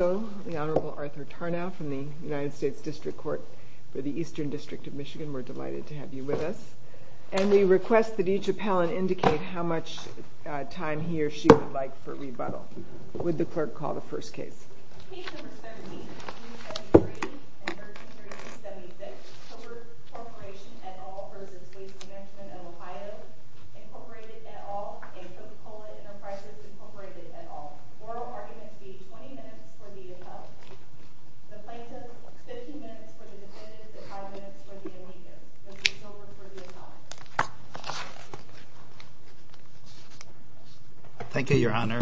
The Honorable Arthur Tarnow from the United States District Court for the Eastern District of Michigan. We're delighted to have you with us. And we request that each appellant indicate how much time he or she would like for rebuttal. Would the clerk call the first case. Case No. 13-273 and 13-276, Cobra Corporation et al. v. Waste Mgt of Ohio Incorporated et al. and Coca Cola Enterprises Incorporated et al. Oral arguments be 20 minutes for the appellant, the plaintiff 15 minutes for the defendant, and 5 minutes for the amicus. The case is over for the appellant. Thank you, Your Honor.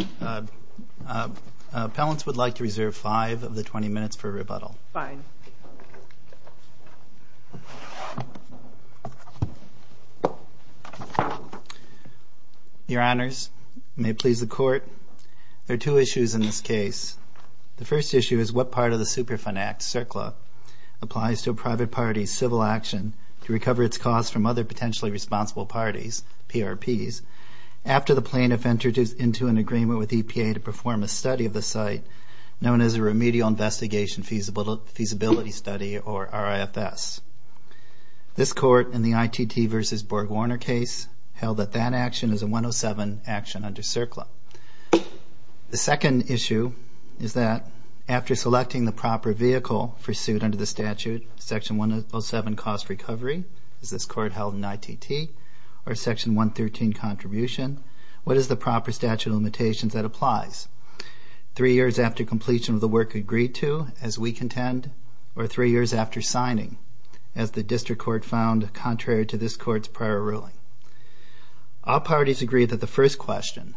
Appellants would like to reserve 5 of the 20 minutes for rebuttal. Fine. Your Honors, may it please the Court, there are two issues in this case. The first issue is what part of the Superfund Act, CERCLA, applies to a private party's civil action to recover its costs from other potentially responsible parties, PRPs, after the plaintiff enters into an agreement with EPA to perform a study of the site known as a Remedial Investigation Feasibility Study, or RIFS. This Court, in the ITT v. BorgWarner case, held that that action is a 107 action under CERCLA. The second issue is that, after selecting the proper vehicle for suit under the statute, Section 107, Cost Recovery, as this Court held in ITT, or Section 113, Contribution, what is the proper statute of limitations that applies? Three years after completion of the work agreed to, as we contend, or three years after signing, as the District Court found contrary to this Court's prior ruling. All parties agree that the first question,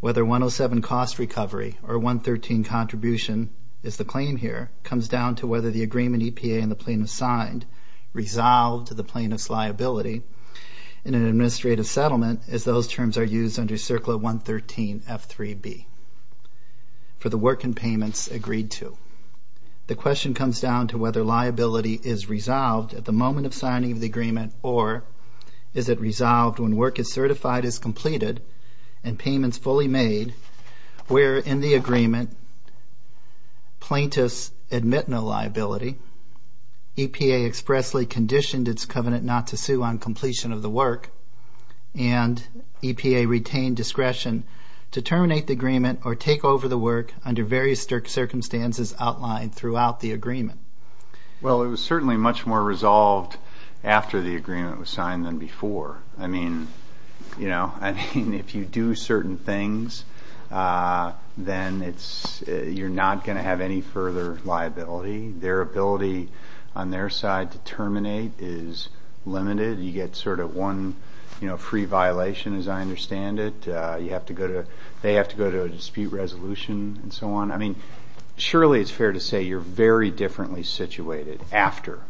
whether 107, Cost Recovery, or 113, Contribution, is the claim here, comes down to whether the agreement EPA and the plaintiff signed resolved the plaintiff's liability in an administrative settlement, as those terms are used under CERCLA 113, F-3B, for the work and payments agreed to. The question comes down to whether liability is resolved at the moment of signing of the agreement, or is it resolved when work is certified as completed and payments fully made, where, in the agreement, plaintiffs admit no liability, EPA expressly conditioned its covenant not to sue on completion of the work, and EPA retain discretion to terminate the agreement or take over the work under various circumstances outlined throughout the agreement. Well, it was certainly much more resolved after the agreement was signed than before. I mean, you know, I mean, if you do certain things, then it's, you're not going to have any further liability. Their ability on their side to terminate is limited. You get sort of one, you know, free violation, as I understand it. You have to go to, they have to go to a dispute resolution and so on. I mean, surely it's fair to say you're very differently situated after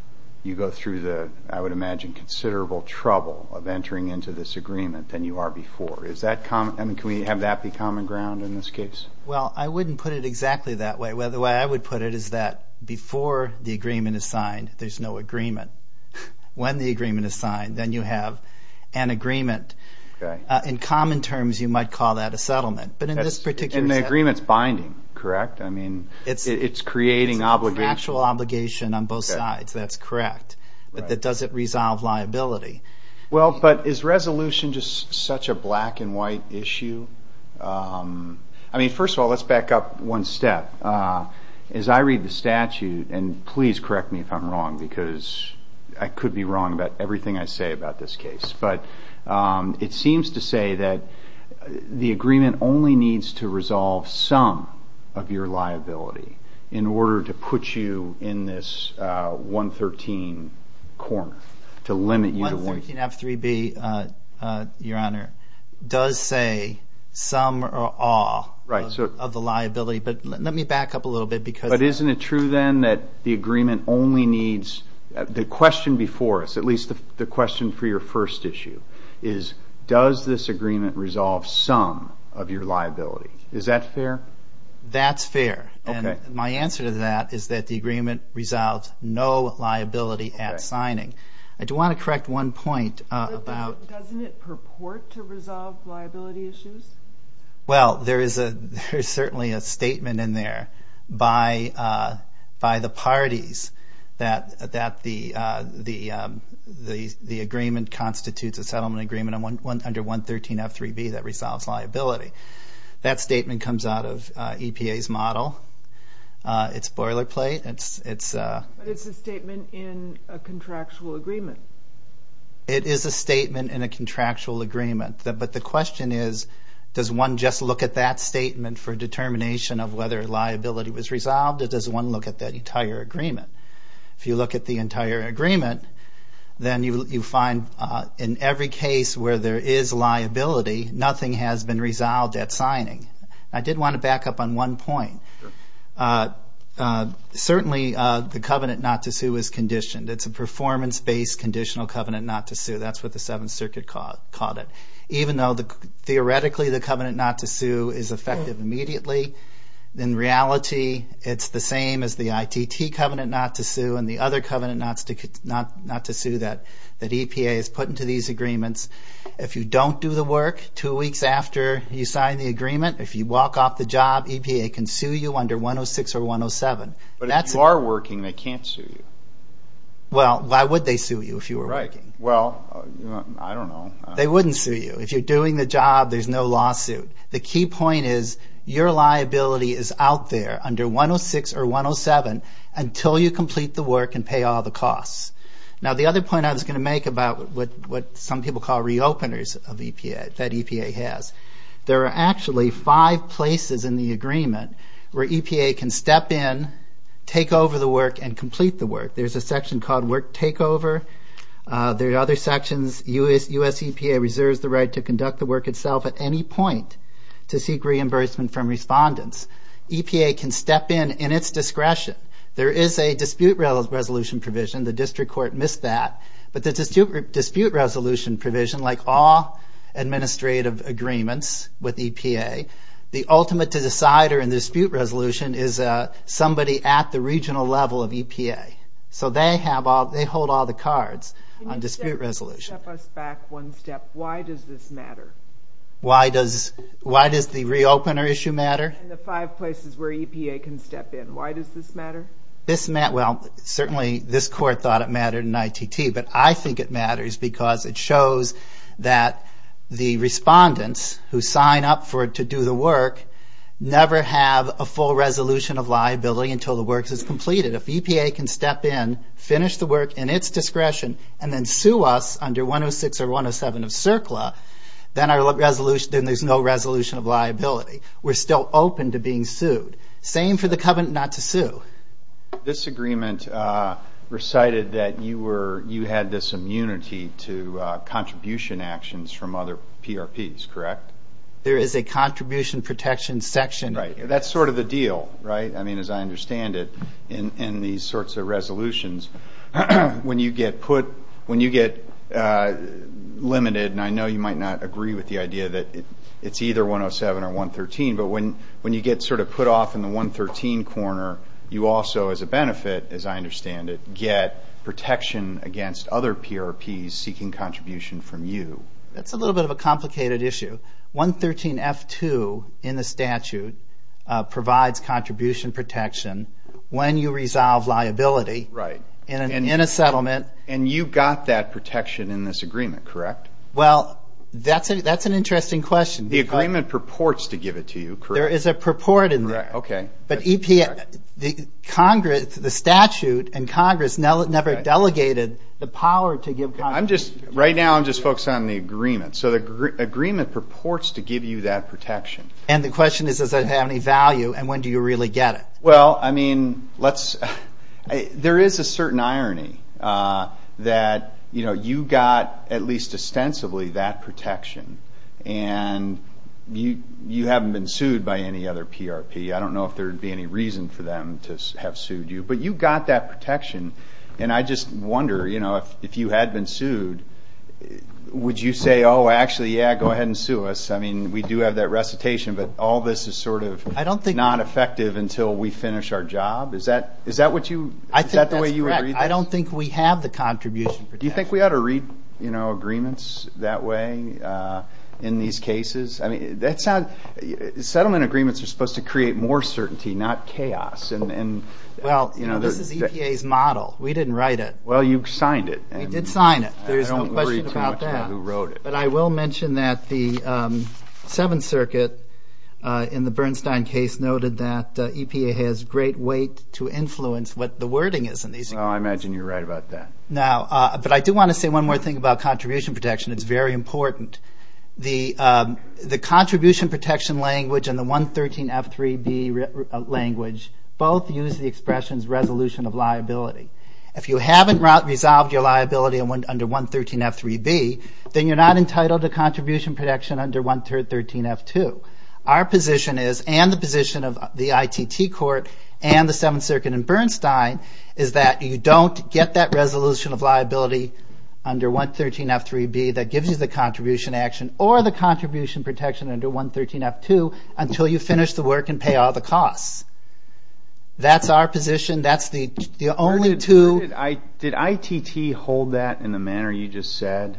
you go through the, I would imagine, considerable trouble of entering into this agreement than you are before. Is that common? I mean, can we have that be common ground in this case? Well, I wouldn't put it exactly that way. The way I would put it is that before the agreement is signed, there's no agreement. When the agreement is signed, then you have an agreement. In common terms, you might call that a settlement. But in this particular case. And the agreement's binding, correct? I mean, it's creating obligation. It's a factual obligation on both sides. That's correct. But that doesn't resolve liability. Well, but is resolution just such a black and white issue? I mean, first of all, let's back up one step. As I read the statute, and please correct me if I'm wrong, because I could be wrong about everything I say about this case, but it seems to say that the agreement only needs to resolve some of your liability in order to put you in this 113 corner, to limit you to one. 113 F-3B, Your Honor, does say some or all of the liability. But let me back up a little bit. But isn't it true, then, that the agreement only needs the question before us, at least the question for your first issue is, does this agreement resolve some of your liability? Is that fair? That's fair. Okay. And my answer to that is that the agreement resolves no liability at signing. I do want to correct one point about. Doesn't it purport to resolve liability issues? Well, there is certainly a statement in there by the parties that the agreement constitutes a settlement agreement under 113 F-3B that resolves liability. That statement comes out of EPA's model. It's boilerplate. But it's a statement in a contractual agreement. It is a statement in a contractual agreement. But the question is, does one just look at that statement for determination of whether liability was resolved, or does one look at that entire agreement? If you look at the entire agreement, then you find in every case where there is liability, nothing has been resolved at signing. I did want to back up on one point. Certainly, the covenant not to sue is conditioned. It's a performance-based conditional covenant not to sue. That's what the Seventh Circuit called it. Even though, theoretically, the covenant not to sue is effective immediately, in reality, it's the same as the ITT covenant not to sue and the other covenant not to sue that EPA has put into these agreements. If you don't do the work two weeks after you sign the agreement, if you walk off the job, EPA can sue you under 106 or 107. But if you are working, they can't sue you. Well, why would they sue you if you were working? Well, I don't know. They wouldn't sue you. If you're doing the job, there's no lawsuit. The key point is your liability is out there under 106 or 107 until you complete the work and pay all the costs. Now, the other point I was going to make about what some people call re-openers that EPA has, there are actually five places in the agreement where EPA can step in, take over the work, and complete the work. There's a section called work takeover. There are other sections. U.S. EPA reserves the right to conduct the work itself at any point to seek reimbursement from respondents. EPA can step in in its discretion. There is a dispute resolution provision. The district court missed that. But the dispute resolution provision, like all administrative agreements with EPA, the ultimate decider in the dispute resolution is somebody at the regional level of EPA. So they hold all the cards on dispute resolution. Step us back one step. Why does this matter? Why does the re-opener issue matter? The five places where EPA can step in, why does this matter? Well, certainly this court thought it mattered in ITT, but I think it matters because it shows that the respondents who sign up to do the work never have a full resolution of liability until the work is completed. If EPA can step in, finish the work in its discretion, and then sue us under 106 or 107 of CERCLA, then there's no resolution of liability. We're still open to being sued. Same for the covenant not to sue. This agreement recited that you had this immunity to contribution actions from other PRPs, correct? There is a contribution protection section. That's sort of the deal, right? I mean, as I understand it, in these sorts of resolutions, when you get limited, and I know you might not agree with the idea that it's either 107 or 113, but when you get sort of put off in the 113 corner, you also, as a benefit, as I understand it, get protection against other PRPs seeking contribution from you. That's a little bit of a complicated issue. 113F2 in the statute provides contribution protection when you resolve liability in a settlement. And you got that protection in this agreement, correct? Well, that's an interesting question. The agreement purports to give it to you, correct? There is a purport in there. But the statute and Congress never delegated the power to give contributions. Right now I'm just focused on the agreement. So the agreement purports to give you that protection. And the question is, does it have any value, and when do you really get it? Well, I mean, there is a certain irony that you got at least ostensibly that protection, and you haven't been sued by any other PRP. I don't know if there would be any reason for them to have sued you. But you got that protection. And I just wonder, you know, if you had been sued, would you say, oh, actually, yeah, go ahead and sue us? I mean, we do have that recitation, but all this is sort of not effective until we finish our job? Is that what you – is that the way you would read that? I think that's correct. I don't think we have the contribution protection. Do you think we ought to read, you know, agreements that way in these cases? Settlement agreements are supposed to create more certainty, not chaos. Well, this is EPA's model. We didn't write it. Well, you signed it. We did sign it. There's no question about that. I don't worry too much about who wrote it. But I will mention that the Seventh Circuit in the Bernstein case noted that EPA has great weight to influence what the wording is in these cases. Oh, I imagine you're right about that. Now, but I do want to say one more thing about contribution protection. It's very important. The contribution protection language and the 113F3B language both use the expressions resolution of liability. If you haven't resolved your liability under 113F3B, then you're not entitled to contribution protection under 113F2. Our position is, and the position of the ITT court and the Seventh Circuit in Bernstein, is that you don't get that resolution of liability under 113F3B that gives you the contribution action or the contribution protection under 113F2 until you finish the work and pay all the costs. That's our position. That's the only two. Did ITT hold that in the manner you just said?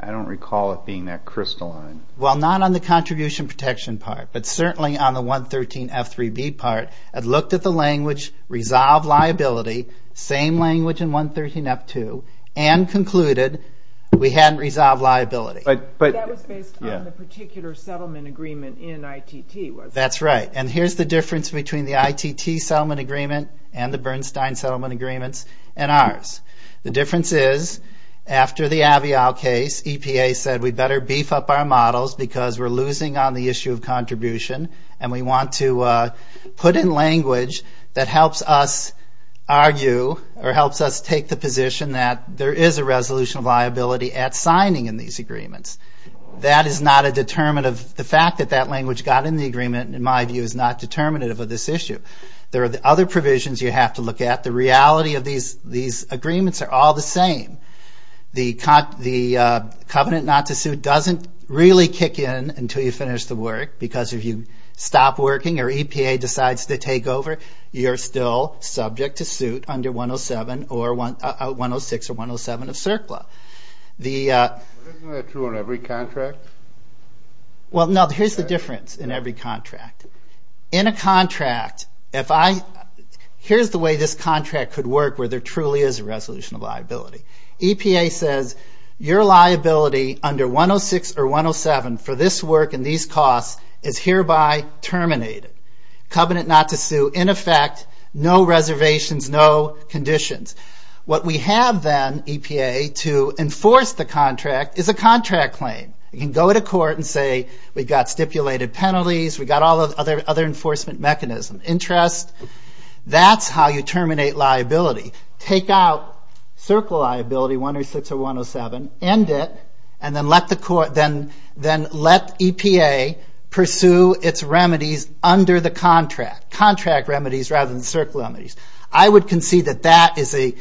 I don't recall it being that crystalline. Well, not on the contribution protection part, but certainly on the 113F3B part. I'd looked at the language, resolved liability, same language in 113F2, and concluded we hadn't resolved liability. But that was based on the particular settlement agreement in ITT, wasn't it? That's right. And here's the difference between the ITT settlement agreement and the Bernstein settlement agreements and ours. The difference is, after the Avial case, EPA said we'd better beef up our models because we're losing on the issue of contribution and we want to put in language that helps us argue or helps us take the position that there is a resolution of liability at signing in these agreements. That is not a determinative. The fact that that language got in the agreement, in my view, is not determinative of this issue. There are other provisions you have to look at. The reality of these agreements are all the same. The covenant not to suit doesn't really kick in until you finish the work because if you stop working or EPA decides to take over, you're still subject to suit under 106 or 107 of CERCLA. Isn't that true on every contract? Well, no, here's the difference in every contract. In a contract, here's the way this contract could work where there truly is a resolution of liability. EPA says your liability under 106 or 107 for this work and these costs is hereby terminated. Covenant not to sue, in effect, no reservations, no conditions. What we have then, EPA, to enforce the contract is a contract claim. You can go to court and say we've got stipulated penalties. We've got all the other enforcement mechanisms, interest. That's how you terminate liability. Take out CERCLA liability, 106 or 107, end it, and then let EPA pursue its remedies under the contract, contract remedies rather than CERCLA remedies. I would concede that that is a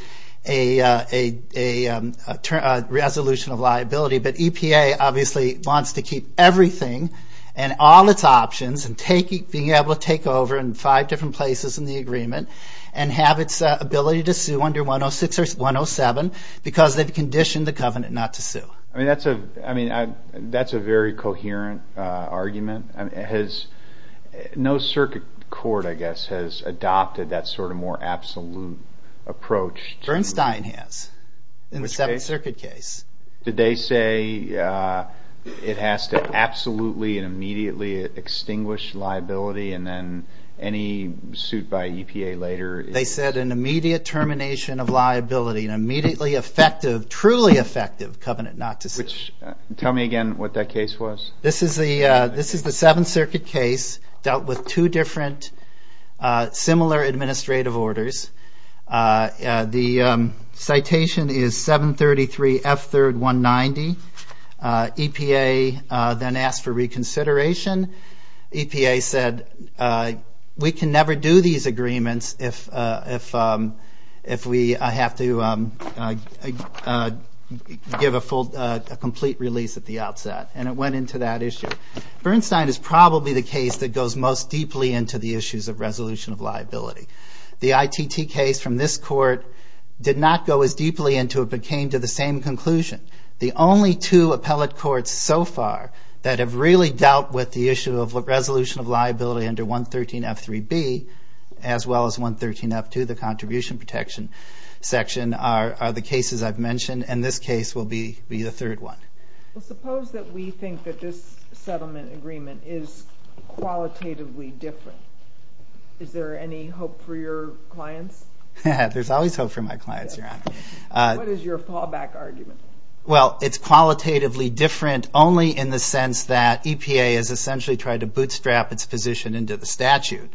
resolution of liability, but EPA obviously wants to keep everything and all its options and being able to take over in five different places in the agreement and have its ability to sue under 106 or 107 because they've conditioned the covenant not to sue. That's a very coherent argument. No circuit court, I guess, has adopted that sort of more absolute approach. Bernstein has in the Seventh Circuit case. Did they say it has to absolutely and immediately extinguish liability and then any suit by EPA later? They said an immediate termination of liability, an immediately effective, truly effective covenant not to sue. Tell me again what that case was. This is the Seventh Circuit case dealt with two different similar administrative orders. The citation is 733F3190. EPA then asked for reconsideration. EPA said we can never do these agreements if we have to give a complete release at the outset. And it went into that issue. Bernstein is probably the case that goes most deeply into the issues of resolution of liability. The ITT case from this court did not go as deeply into it, but came to the same conclusion. The only two appellate courts so far that have really dealt with the issue of resolution of liability under 113F3B, as well as 113F2, the contribution protection section, are the cases I've mentioned. And this case will be the third one. Well, suppose that we think that this settlement agreement is qualitatively different. Is there any hope for your clients? There's always hope for my clients, Your Honor. What is your fallback argument? Well, it's qualitatively different only in the sense that EPA has essentially tried to bootstrap its position into the statute.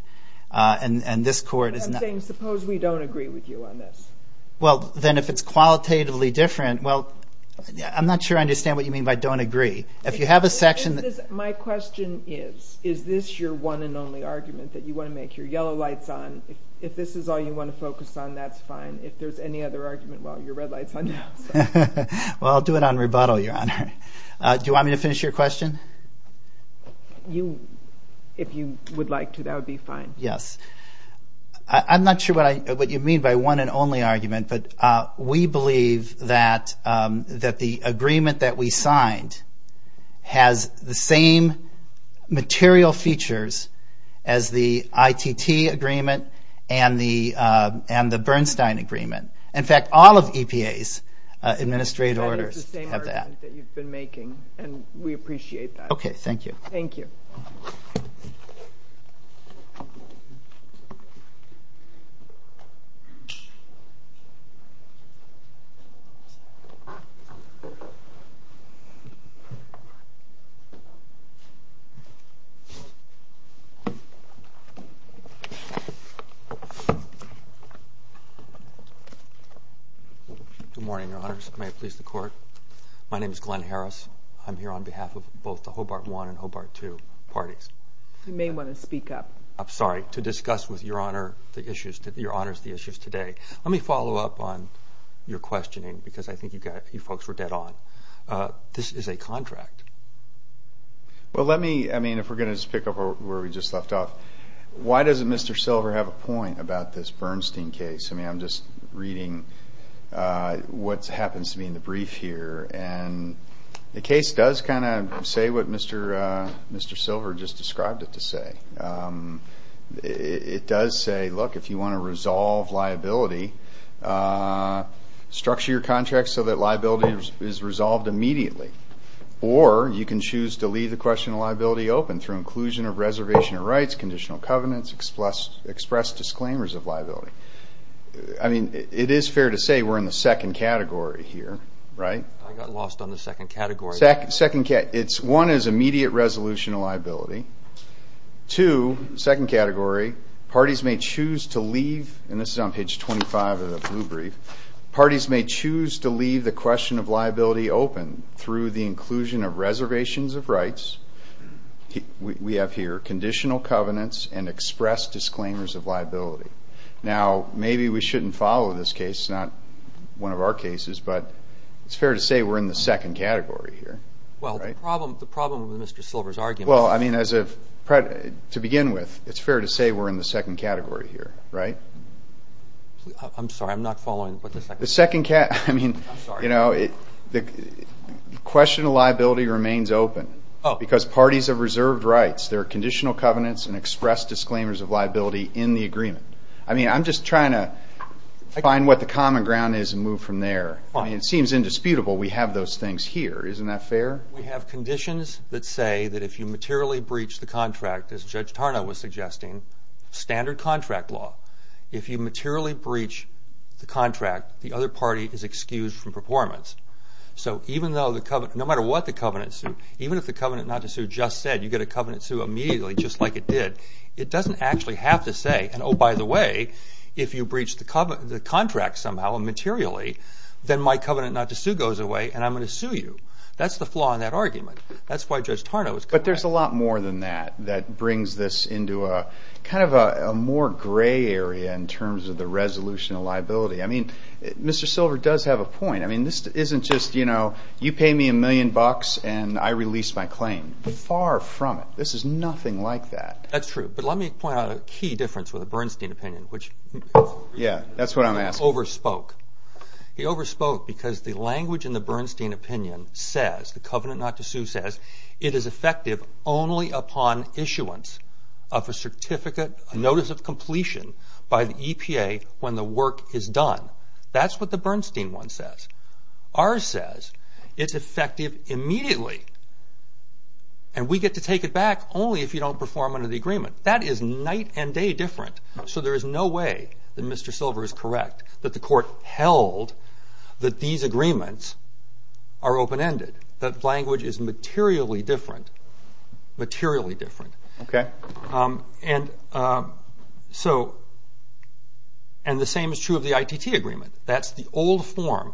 And this court is not... I'm saying suppose we don't agree with you on this. Well, then if it's qualitatively different, well, I'm not sure I understand what you mean by don't agree. If you have a section... My question is, is this your one and only argument that you want to make your yellow lights on? If this is all you want to focus on, that's fine. If there's any other argument, well, your red light's on now. Well, I'll do it on rebuttal, Your Honor. Do you want me to finish your question? If you would like to, that would be fine. Yes. I'm not sure what you mean by one and only argument, but we believe that the agreement that we signed has the same material features as the ITT agreement and the Bernstein agreement. In fact, all of EPA's administrative orders have that. That is the same argument that you've been making, and we appreciate that. Okay, thank you. Thank you. Thank you. Good morning, Your Honors. May it please the Court. My name is Glenn Harris. I'm here on behalf of both the Hobart I and Hobart II parties. You may want to speak up. I'm sorry, to discuss with Your Honor the issues today. Let me follow up on your questioning, because I think you folks were dead on. This is a contract. Well, let me, I mean, if we're going to just pick up where we just left off, why doesn't Mr. Silver have a point about this Bernstein case? I mean, I'm just reading what happens to be in the brief here, and the case does kind of say what Mr. Silver just described it to say. It does say, look, if you want to resolve liability, structure your contract so that liability is resolved immediately, or you can choose to leave the question of liability open through inclusion of reservation of rights, conditional covenants, express disclaimers of liability. I mean, it is fair to say we're in the second category here, right? I got lost on the second category. One is immediate resolution of liability. Two, second category, parties may choose to leave, and this is on page 25 of the blue brief, parties may choose to leave the question of liability open through the inclusion of reservations of rights. We have here conditional covenants and express disclaimers of liability. Now, maybe we shouldn't follow this case. It's not one of our cases, but it's fair to say we're in the second category here, right? Well, the problem with Mr. Silver's argument is… Well, I mean, to begin with, it's fair to say we're in the second category here, right? I'm sorry. I'm not following, but the second category… The second category, I mean… I'm sorry. You know, the question of liability remains open because parties have reserved rights. There are conditional covenants and express disclaimers of liability in the agreement. I mean, I'm just trying to find what the common ground is and move from there. I mean, it seems indisputable we have those things here. Isn't that fair? We have conditions that say that if you materially breach the contract, as Judge Tarnow was suggesting, standard contract law, if you materially breach the contract, the other party is excused from performance. So no matter what the covenant is, even if the covenant not to sue just said you get a covenant to sue immediately just like it did, it doesn't actually have to say, oh, by the way, if you breach the contract somehow materially, then my covenant not to sue goes away and I'm going to sue you. That's the flaw in that argument. That's why Judge Tarnow is… But there's a lot more than that that brings this into kind of a more gray area in terms of the resolution of liability. I mean, Mr. Silver does have a point. I mean, this isn't just, you know, you pay me a million bucks and I release my claim. Far from it. This is nothing like that. That's true. But let me point out a key difference with the Bernstein opinion, which… Yeah, that's what I'm asking. …he overspoke. He overspoke because the language in the Bernstein opinion says, the covenant not to sue says, it is effective only upon issuance of a certificate, a notice of completion by the EPA when the work is done. That's what the Bernstein one says. Ours says it's effective immediately and we get to take it back only if you don't perform under the agreement. That is night and day different. So there is no way that Mr. Silver is correct that the court held that these agreements are open-ended, that language is materially different, materially different. Okay. And the same is true of the ITT agreement. That's the old form.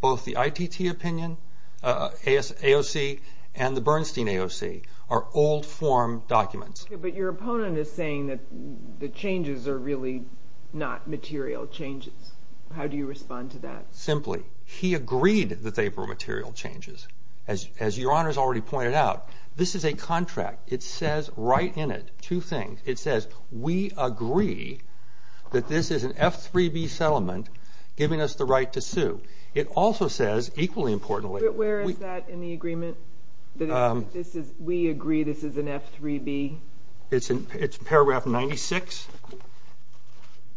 Both the ITT opinion, AOC, and the Bernstein AOC are old form documents. But your opponent is saying that the changes are really not material changes. How do you respond to that? Simply, he agreed that they were material changes. As Your Honor has already pointed out, this is a contract. It says right in it two things. It says, we agree that this is an F3B settlement giving us the right to sue. It also says, equally importantly. Where is that in the agreement? This is, we agree this is an F3B? It's in paragraph 96B.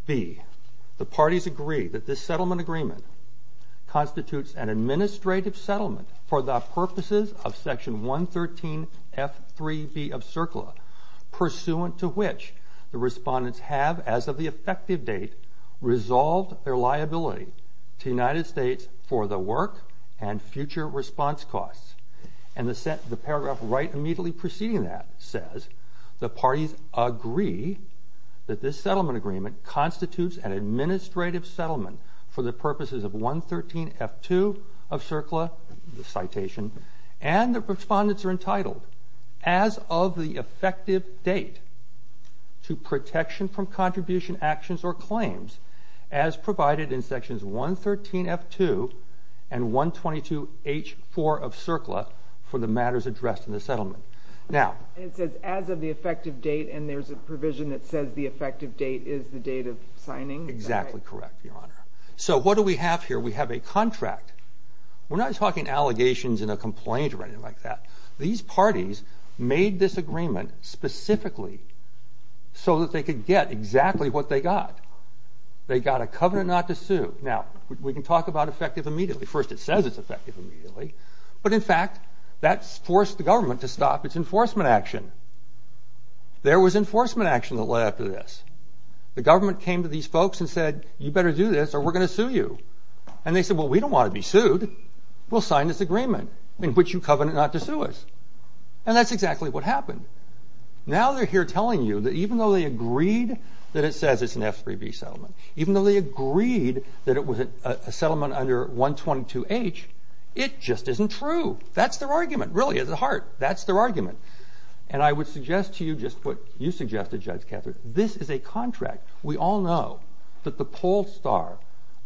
The parties agree that this settlement agreement constitutes an administrative settlement for the purposes of section 113F3B of CERCLA, pursuant to which the respondents have, as of the effective date, resolved their liability to the United States for the work and future response costs. And the paragraph right immediately preceding that says, the parties agree that this settlement agreement constitutes an administrative settlement for the purposes of 113F2 of CERCLA, the citation, and the respondents are entitled, as of the effective date, to protection from contribution actions or claims as provided in sections 113F2 and 122H4 of CERCLA for the matters addressed in the settlement. It says, as of the effective date, and there's a provision that says the effective date is the date of signing? Exactly correct, Your Honor. So what do we have here? We have a contract. We're not talking allegations in a complaint or anything like that. These parties made this agreement specifically so that they could get exactly what they got. They got a covenant not to sue. Now, we can talk about effective immediately. First, it says it's effective immediately. But, in fact, that forced the government to stop its enforcement action. There was enforcement action that led up to this. The government came to these folks and said, you better do this or we're going to sue you. And they said, well, we don't want to be sued. We'll sign this agreement in which you covenant not to sue us. And that's exactly what happened. Now they're here telling you that even though they agreed that it says it's an F3B settlement, even though they agreed that it was a settlement under 122H, it just isn't true. That's their argument, really, at the heart. That's their argument. And I would suggest to you just what you suggested, Judge Cather. This is a contract. We all know that the pole star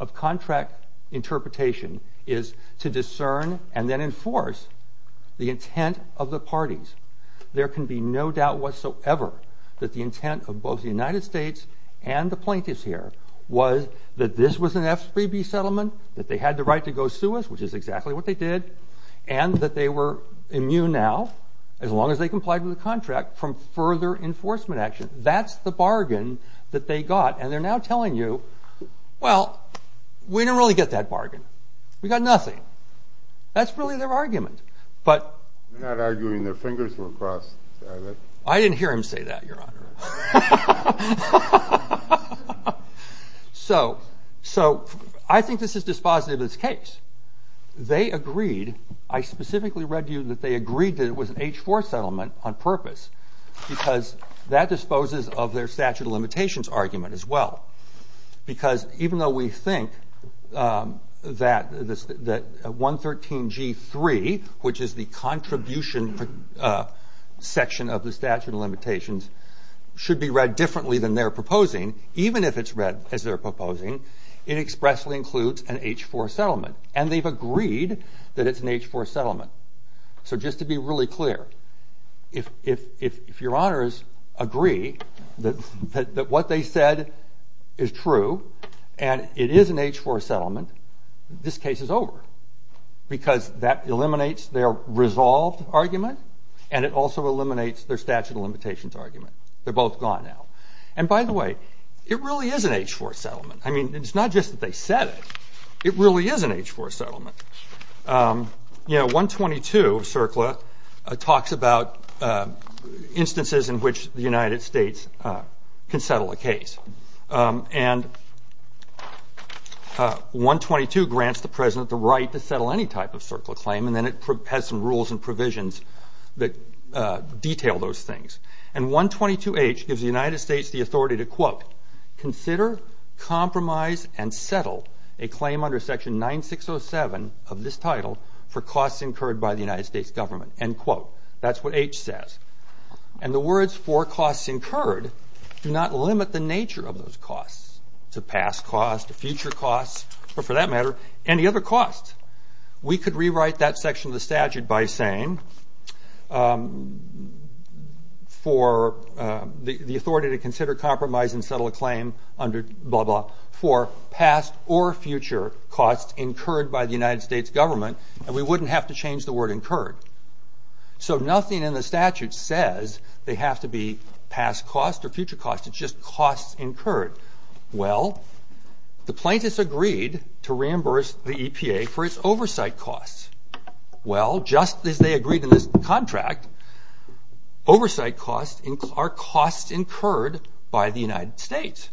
of contract interpretation is to discern and then enforce the intent of the parties. There can be no doubt whatsoever that the intent of both the United States and the plaintiffs here was that this was an F3B settlement, that they had the right to go sue us, which is exactly what they did, and that they were immune now, as long as they complied with the contract, from further enforcement action. That's the bargain that they got. And they're now telling you, well, we didn't really get that bargain. We got nothing. That's really their argument. They're not arguing their fingers were crossed. I didn't hear him say that, Your Honor. So I think this is dispositive of this case. They agreed. I specifically read to you that they agreed that it was an H4 settlement on purpose because that disposes of their statute of limitations argument as well because even though we think that 113G3, which is the contribution section of the statute of limitations, should be read differently than they're proposing, even if it's read as they're proposing, it expressly includes an H4 settlement. And they've agreed that it's an H4 settlement. So just to be really clear, if Your Honors agree that what they said is true and it is an H4 settlement, this case is over because that eliminates their resolved argument and it also eliminates their statute of limitations argument. They're both gone now. And by the way, it really is an H4 settlement. I mean, it's not just that they said it. It really is an H4 settlement. You know, 122 CERCLA talks about instances in which the United States can settle a case. And 122 grants the President the right to settle any type of CERCLA claim and then it has some rules and provisions that detail those things. And 122H gives the United States the authority to, quote, consider, compromise, and settle a claim under Section 9607 of this title for costs incurred by the United States government. End quote. That's what H says. And the words for costs incurred do not limit the nature of those costs. It's a past cost, a future cost, or for that matter, any other cost. We could rewrite that section of the statute by saying for the authority to consider, compromise, and settle a claim under blah, blah, for past or future costs incurred by the United States government and we wouldn't have to change the word incurred. So nothing in the statute says they have to be past costs or future costs. It's just costs incurred. Well, the plaintiffs agreed to reimburse the EPA for its oversight costs. Well, just as they agreed in this contract, oversight costs are costs incurred by the United States.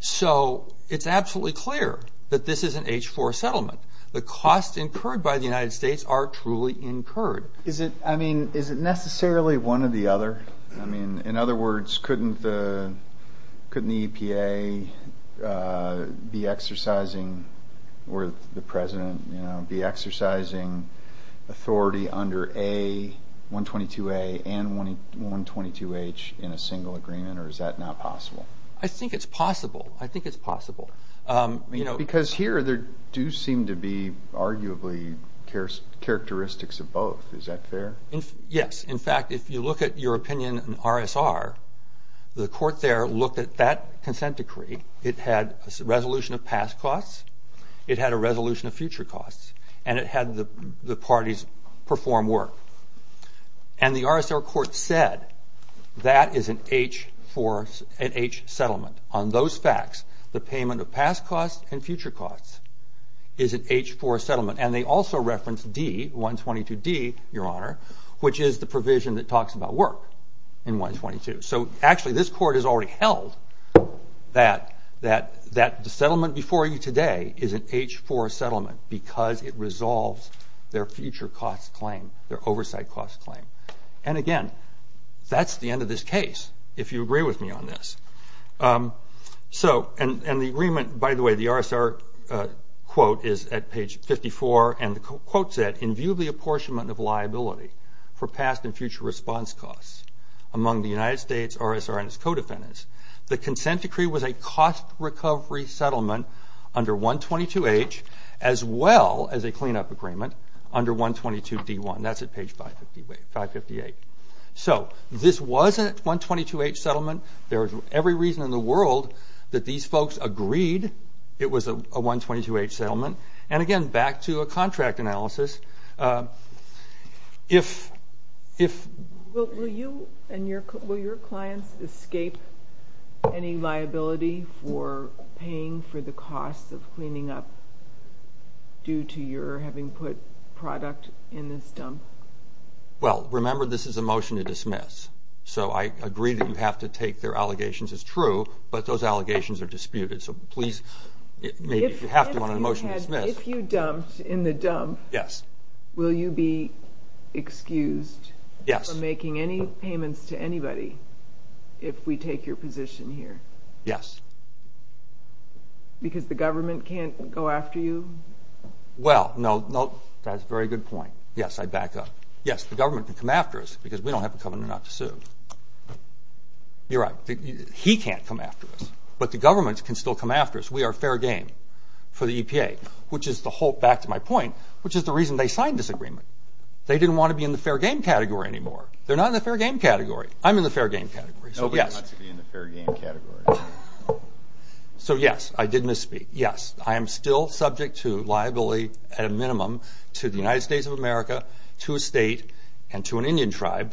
So it's absolutely clear that this is an H-4 settlement. The costs incurred by the United States are truly incurred. I mean, is it necessarily one or the other? I mean, in other words, couldn't the EPA be exercising, or the President, be exercising authority under A, 122A, and 122H in a single agreement, or is that not possible? I think it's possible. I think it's possible. Because here there do seem to be arguably characteristics of both. Is that fair? Yes. In fact, if you look at your opinion in RSR, the court there looked at that consent decree. It had a resolution of past costs, it had a resolution of future costs, and it had the parties perform work. And the RSR court said that is an H settlement. On those facts, the payment of past costs and future costs is an H-4 settlement. And they also referenced D, 122D, Your Honor, which is the provision that talks about work in 122. So actually this court has already held that the settlement before you today is an H-4 settlement because it resolves their future costs claim, their oversight costs claim. And again, that's the end of this case, if you agree with me on this. And the agreement, by the way, the RSR quote is at page 54, and the quote said, in view of the apportionment of liability for past and future response costs among the United States, RSR, and its co-defendants, the consent decree was a cost recovery settlement under 122H as well as a cleanup agreement under 122D1. That's at page 558. So this wasn't a 122H settlement. There's every reason in the world that these folks agreed it was a 122H settlement. And again, back to a contract analysis, if... Will you and your clients escape any liability for paying for the cost of cleaning up due to your having put product in this dump? So I agree that you have to take their allegations as true, but those allegations are disputed. So please, if you have to, on a motion to dismiss... If you dumped in the dump, will you be excused from making any payments to anybody if we take your position here? Yes. Because the government can't go after you? Well, no, that's a very good point. Yes, I back up. Yes, the government can come after us because we don't have a covenant not to sue. You're right. He can't come after us, but the government can still come after us. We are fair game for the EPA, which is the whole... Back to my point, which is the reason they signed this agreement. They didn't want to be in the fair game category anymore. They're not in the fair game category. I'm in the fair game category. Nobody wants to be in the fair game category. So, yes, I did misspeak. Yes, I am still subject to liability at a minimum to the United States of America, to a state, and to an Indian tribe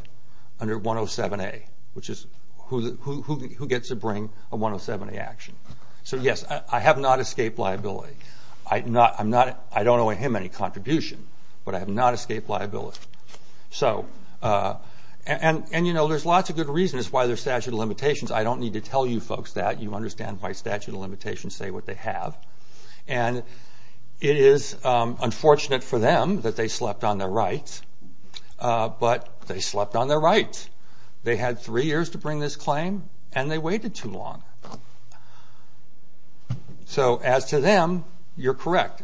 under 107A, which is who gets to bring a 107A action. So, yes, I have not escaped liability. I don't owe him any contribution, but I have not escaped liability. And, you know, there's lots of good reasons why there's statute of limitations. I don't need to tell you folks that. You understand by statute of limitations say what they have. And it is unfortunate for them that they slept on their rights, but they slept on their rights. They had three years to bring this claim, and they waited too long. So, as to them, you're correct.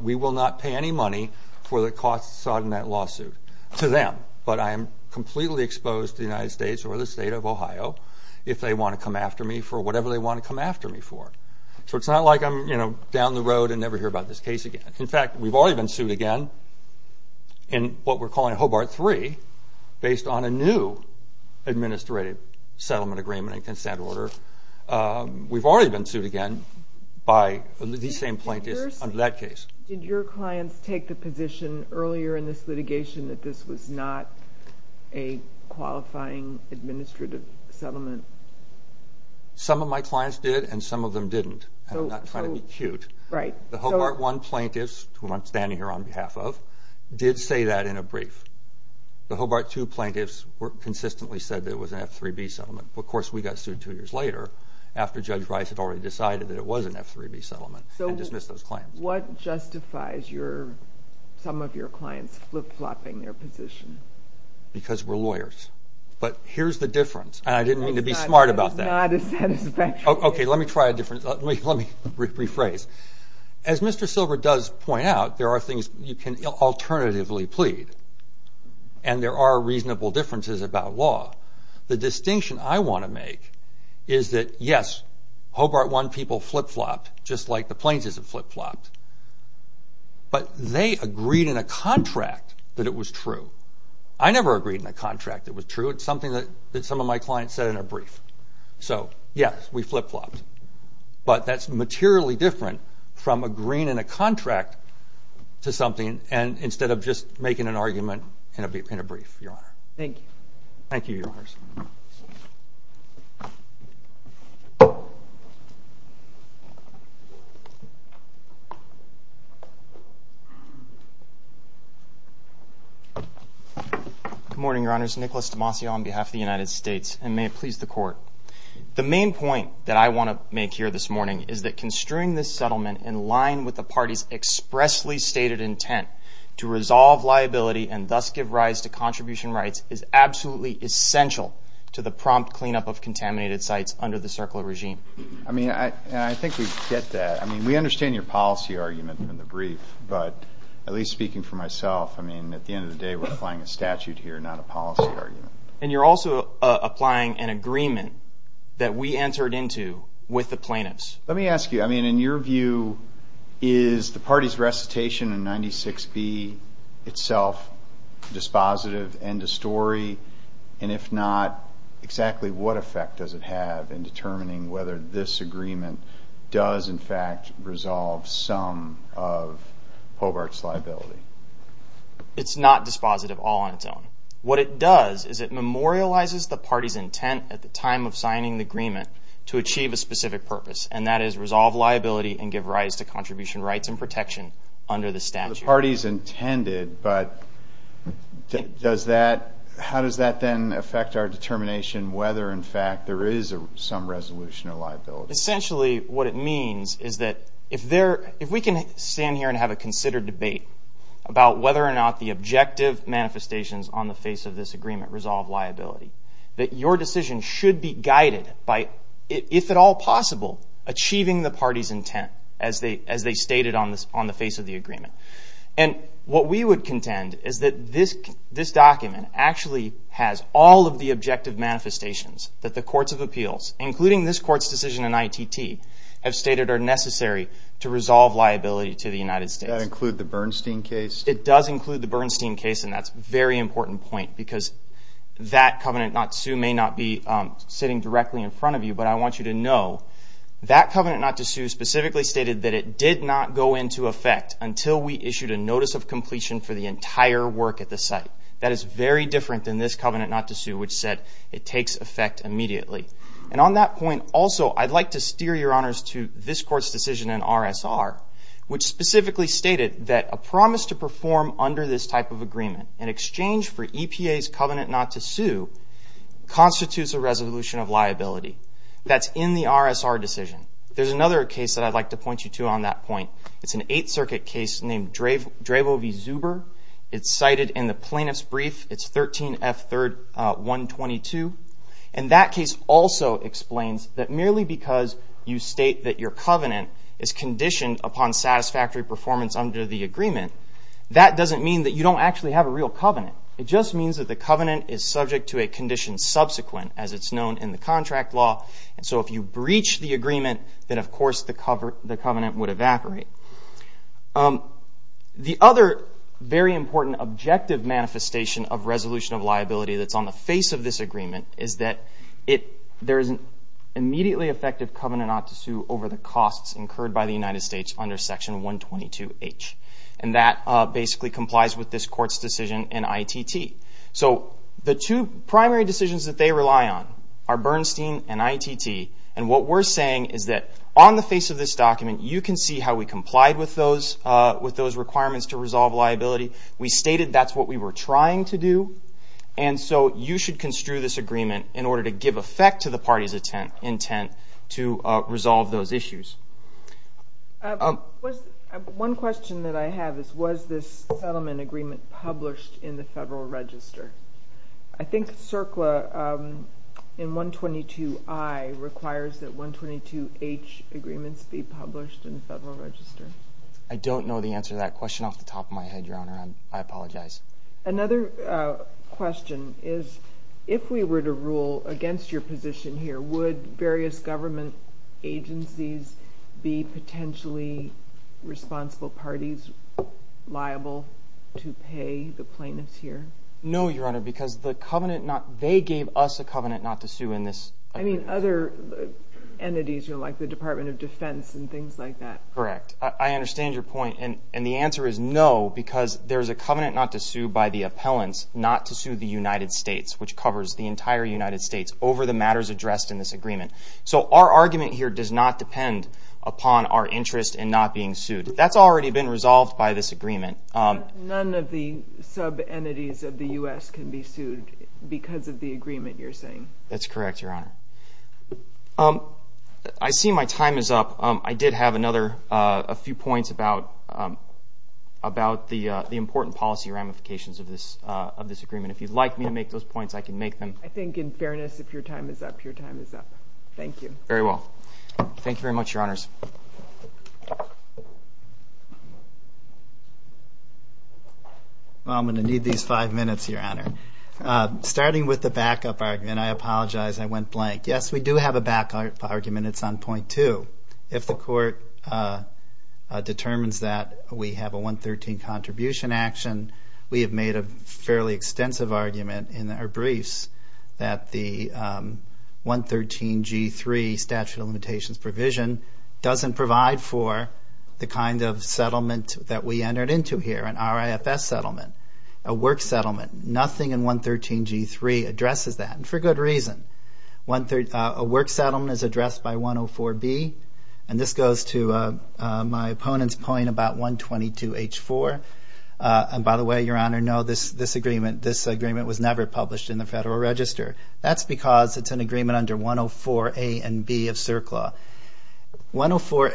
We will not pay any money for the costs sought in that lawsuit to them, but I am completely exposed to the United States or the state of Ohio if they want to come after me for whatever they want to come after me for. So it's not like I'm down the road and never hear about this case again. In fact, we've already been sued again in what we're calling Hobart 3 based on a new administrative settlement agreement and consent order. We've already been sued again by the same plaintiffs under that case. Did your clients take the position earlier in this litigation that this was not a qualifying administrative settlement? Some of my clients did, and some of them didn't. I'm not trying to be cute. The Hobart 1 plaintiffs, whom I'm standing here on behalf of, did say that in a brief. The Hobart 2 plaintiffs consistently said that it was an F3B settlement. Of course, we got sued two years later after Judge Rice had already decided that it was an F3B settlement and dismissed those claims. What justifies some of your clients flip-flopping their position? Because we're lawyers. But here's the difference, and I didn't mean to be smart about that. It's not as satisfactory. Okay, let me try a different way. Let me rephrase. As Mr. Silver does point out, there are things you can alternatively plead, and there are reasonable differences about law. The distinction I want to make is that, yes, Hobart 1 people flip-flopped, just like the plaintiffs have flip-flopped, but they agreed in a contract that it was true. I never agreed in a contract it was true. It's something that some of my clients said in a brief. So, yes, we flip-flopped. But that's materially different from agreeing in a contract to something instead of just making an argument in a brief, Your Honor. Thank you. Thank you, Your Honors. Good morning, Your Honors. Nicholas Demasi on behalf of the United States, and may it please the Court. The main point that I want to make here this morning is that construing this settlement in line with the party's expressly stated intent to resolve liability and thus give rise to contribution rights is absolutely essential to the prompt cleanup of contaminated sites under the CERCLA regime. I mean, I think we get that. I mean, we understand your policy argument in the brief, but at least speaking for myself, I mean, at the end of the day, we're applying a statute here, not a policy argument. And you're also applying an agreement that we answered into with the plaintiffs. Let me ask you, I mean, in your view, is the party's recitation in 96B itself dispositive, end of story? And if not, exactly what effect does it have in determining whether this agreement does, in fact, resolve some of Hobart's liability? It's not dispositive all on its own. What it does is it memorializes the party's intent at the time of signing the agreement to achieve a specific purpose, and that is resolve liability and give rise to contribution rights and protection under the statute. The party's intended, but how does that then affect our determination So essentially what it means is that if we can stand here and have a considered debate about whether or not the objective manifestations on the face of this agreement resolve liability, that your decision should be guided by, if at all possible, achieving the party's intent as they stated on the face of the agreement. And what we would contend is that this document actually has all of the objective manifestations that the courts of appeals, including this court's decision in ITT, have stated are necessary to resolve liability to the United States. Does that include the Bernstein case? It does include the Bernstein case, and that's a very important point because that covenant not to sue may not be sitting directly in front of you, but I want you to know that covenant not to sue specifically stated that it did not go into effect until we issued a notice of completion for the entire work at the site. That is very different than this covenant not to sue, which said it takes effect immediately. And on that point, also, I'd like to steer your honors to this court's decision in RSR, which specifically stated that a promise to perform under this type of agreement in exchange for EPA's covenant not to sue constitutes a resolution of liability. That's in the RSR decision. There's another case that I'd like to point you to on that point. It's an Eighth Circuit case named Dravo v. Zuber. It's cited in the plaintiff's brief. It's 13F3-122. And that case also explains that merely because you state that your covenant is conditioned upon satisfactory performance under the agreement, that doesn't mean that you don't actually have a real covenant. It just means that the covenant is subject to a condition subsequent, as it's known in the contract law. And so if you breach the agreement, then, of course, the covenant would evaporate. The other very important objective manifestation of resolution of liability that's on the face of this agreement is that there is an immediately effective covenant not to sue over the costs incurred by the United States under Section 122H. And that basically complies with this court's decision in ITT. So the two primary decisions that they rely on are Bernstein and ITT. And what we're saying is that on the face of this document, you can see how we complied with those requirements to resolve liability. We stated that's what we were trying to do. And so you should construe this agreement in order to give effect to the party's intent to resolve those issues. One question that I have is, was this settlement agreement published in the Federal Register? I think CERCLA in 122I requires that 122H agreements be published in the Federal Register. I don't know the answer to that question off the top of my head, Your Honor. I apologize. Another question is, if we were to rule against your position here, would various government agencies be potentially responsible parties liable to pay the plaintiffs here? No, Your Honor, because they gave us a covenant not to sue in this agreement. I mean other entities, like the Department of Defense and things like that. Correct. I understand your point. And the answer is no, because there's a covenant not to sue by the appellants not to sue the United States, which covers the entire United States, over the matters addressed in this agreement. So our argument here does not depend upon our interest in not being sued. That's already been resolved by this agreement. But none of the sub-entities of the U.S. can be sued because of the agreement you're saying? That's correct, Your Honor. I see my time is up. I did have a few points about the important policy ramifications of this agreement. If you'd like me to make those points, I can make them. I think in fairness, if your time is up, your time is up. Thank you. Very well. Thank you very much, Your Honors. Well, I'm going to need these five minutes, Your Honor. Starting with the backup argument, I apologize, I went blank. Yes, we do have a backup argument. It's on point two. If the court determines that we have a 113 contribution action, we have made a fairly extensive argument in our briefs that the 113G3 statute of limitations provision doesn't provide for the kind of settlement that we entered into here, an RIFS settlement, a work settlement. Nothing in 113G3 addresses that, and for good reason. A work settlement is addressed by 104B, and this goes to my opponent's point about 122H4. And by the way, Your Honor, no, this agreement was never published in the Federal Register. That's because it's an agreement under 104A and B of CERCLA. Language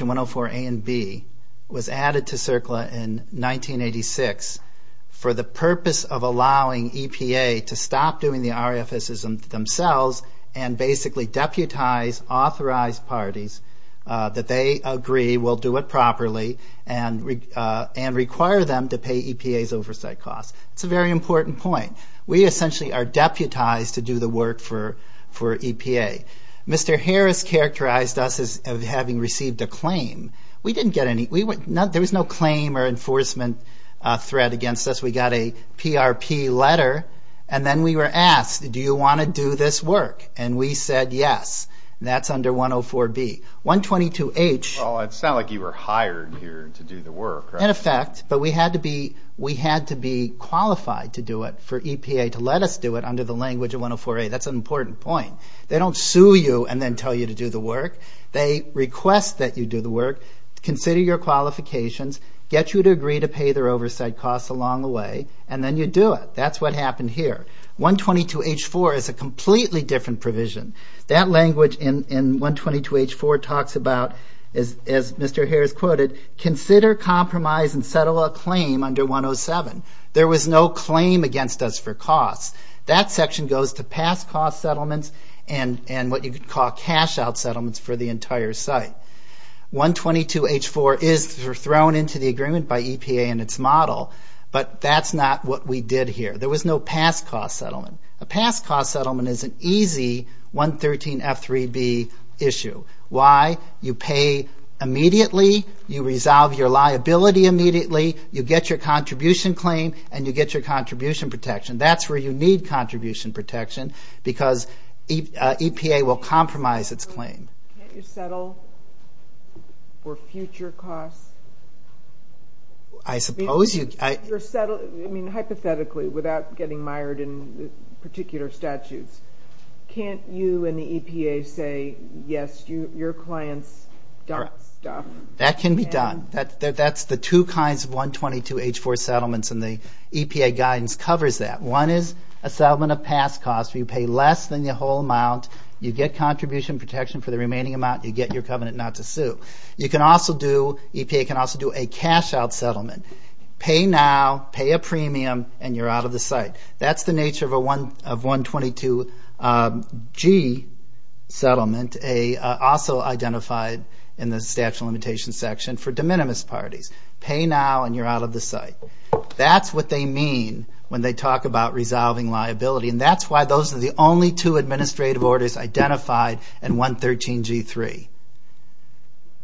in 104A and B was added to CERCLA in 1986 for the purpose of allowing EPA to stop doing the RIFSs themselves and basically deputize authorized parties that they agree will do it properly and require them to pay EPA's oversight costs. It's a very important point. We essentially are deputized to do the work for EPA. Mr. Harris characterized us as having received a claim. We didn't get any. There was no claim or enforcement threat against us. We got a PRP letter, and then we were asked, do you want to do this work? And we said yes. That's under 104B. 122H. Well, it's not like you were hired here to do the work, right? But we had to be qualified to do it for EPA to let us do it under the language of 104A. That's an important point. They don't sue you and then tell you to do the work. They request that you do the work, consider your qualifications, get you to agree to pay their oversight costs along the way, and then you do it. That's what happened here. 122H.4 is a completely different provision. That language in 122H.4 talks about, as Mr. Harris quoted, consider, compromise, and settle a claim under 107. There was no claim against us for costs. That section goes to past cost settlements and what you could call cash-out settlements for the entire site. 122H.4 is thrown into the agreement by EPA and its model, but that's not what we did here. There was no past cost settlement. A past cost settlement is an easy 113F.3B issue. Why? You pay immediately, you resolve your liability immediately, you get your contribution claim, and you get your contribution protection. That's where you need contribution protection because EPA will compromise its claim. Can't you settle for future costs? I suppose you can. Hypothetically, without getting mired in particular statutes, can't you and the EPA say, yes, your clients don't stop? That can be done. That's the two kinds of 122H.4 settlements, and the EPA guidance covers that. One is a settlement of past costs where you pay less than the whole amount, you get contribution protection for the remaining amount, and you get your covenant not to sue. EPA can also do a cash-out settlement. Pay now, pay a premium, and you're out of the site. That's the nature of a 122G settlement, also identified in the statute of limitations section for de minimis parties. Pay now and you're out of the site. That's what they mean when they talk about resolving liability, and that's why those are the only two administrative orders identified in 113G.3.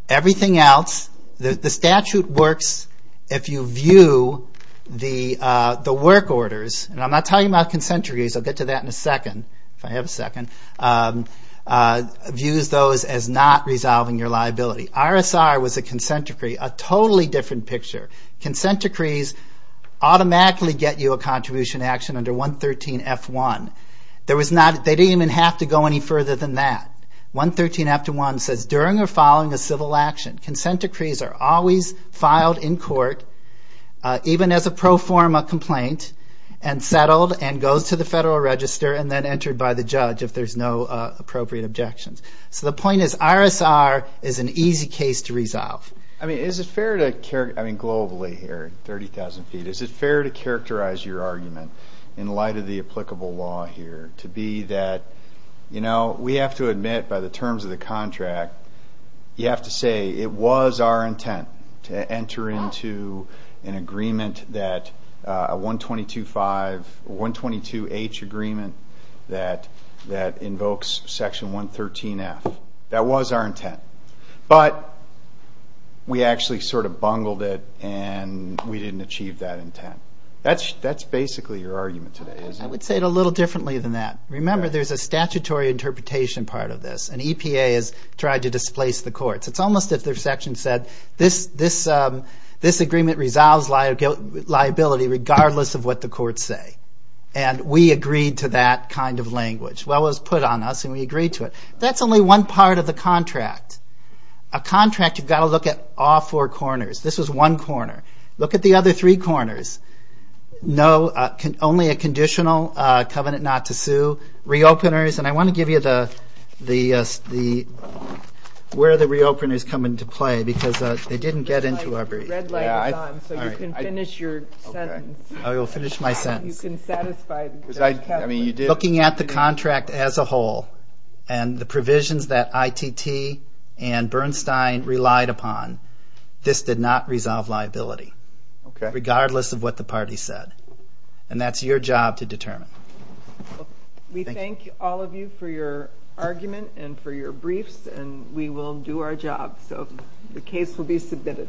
Everything else, the statute works if you view the work orders, and I'm not talking about consent decrees. I'll get to that in a second, if I have a second, views those as not resolving your liability. RSR was a consent decree, a totally different picture. Consent decrees automatically get you a contribution action under 113F1. They didn't even have to go any further than that. 113F1 says, during or following a civil action, consent decrees are always filed in court, even as a pro forma complaint, and settled and goes to the federal register and then entered by the judge if there's no appropriate objections. So the point is RSR is an easy case to resolve. I mean, globally here, 30,000 feet, is it fair to characterize your argument in light of the applicable law here to be that, you know, we have to admit by the terms of the contract, you have to say it was our intent to enter into an agreement that a 122H agreement that invokes section 113F. That was our intent. But we actually sort of bungled it and we didn't achieve that intent. That's basically your argument today, isn't it? I would say it a little differently than that. Remember, there's a statutory interpretation part of this, and EPA has tried to displace the courts. It's almost as if their section said, this agreement resolves liability regardless of what the courts say. And we agreed to that kind of language. Well, it was put on us and we agreed to it. That's only one part of the contract. A contract, you've got to look at all four corners. This was one corner. Look at the other three corners. No, only a conditional covenant not to sue. Reopeners, and I want to give you where the reopeners come into play because they didn't get into our brief. The red light is on, so you can finish your sentence. I will finish my sentence. Looking at the contract as a whole and the provisions that ITT and Bernstein relied upon, this did not resolve liability regardless of what the parties said. And that's your job to determine. We thank all of you for your argument and for your briefs, and we will do our job. So the case will be submitted.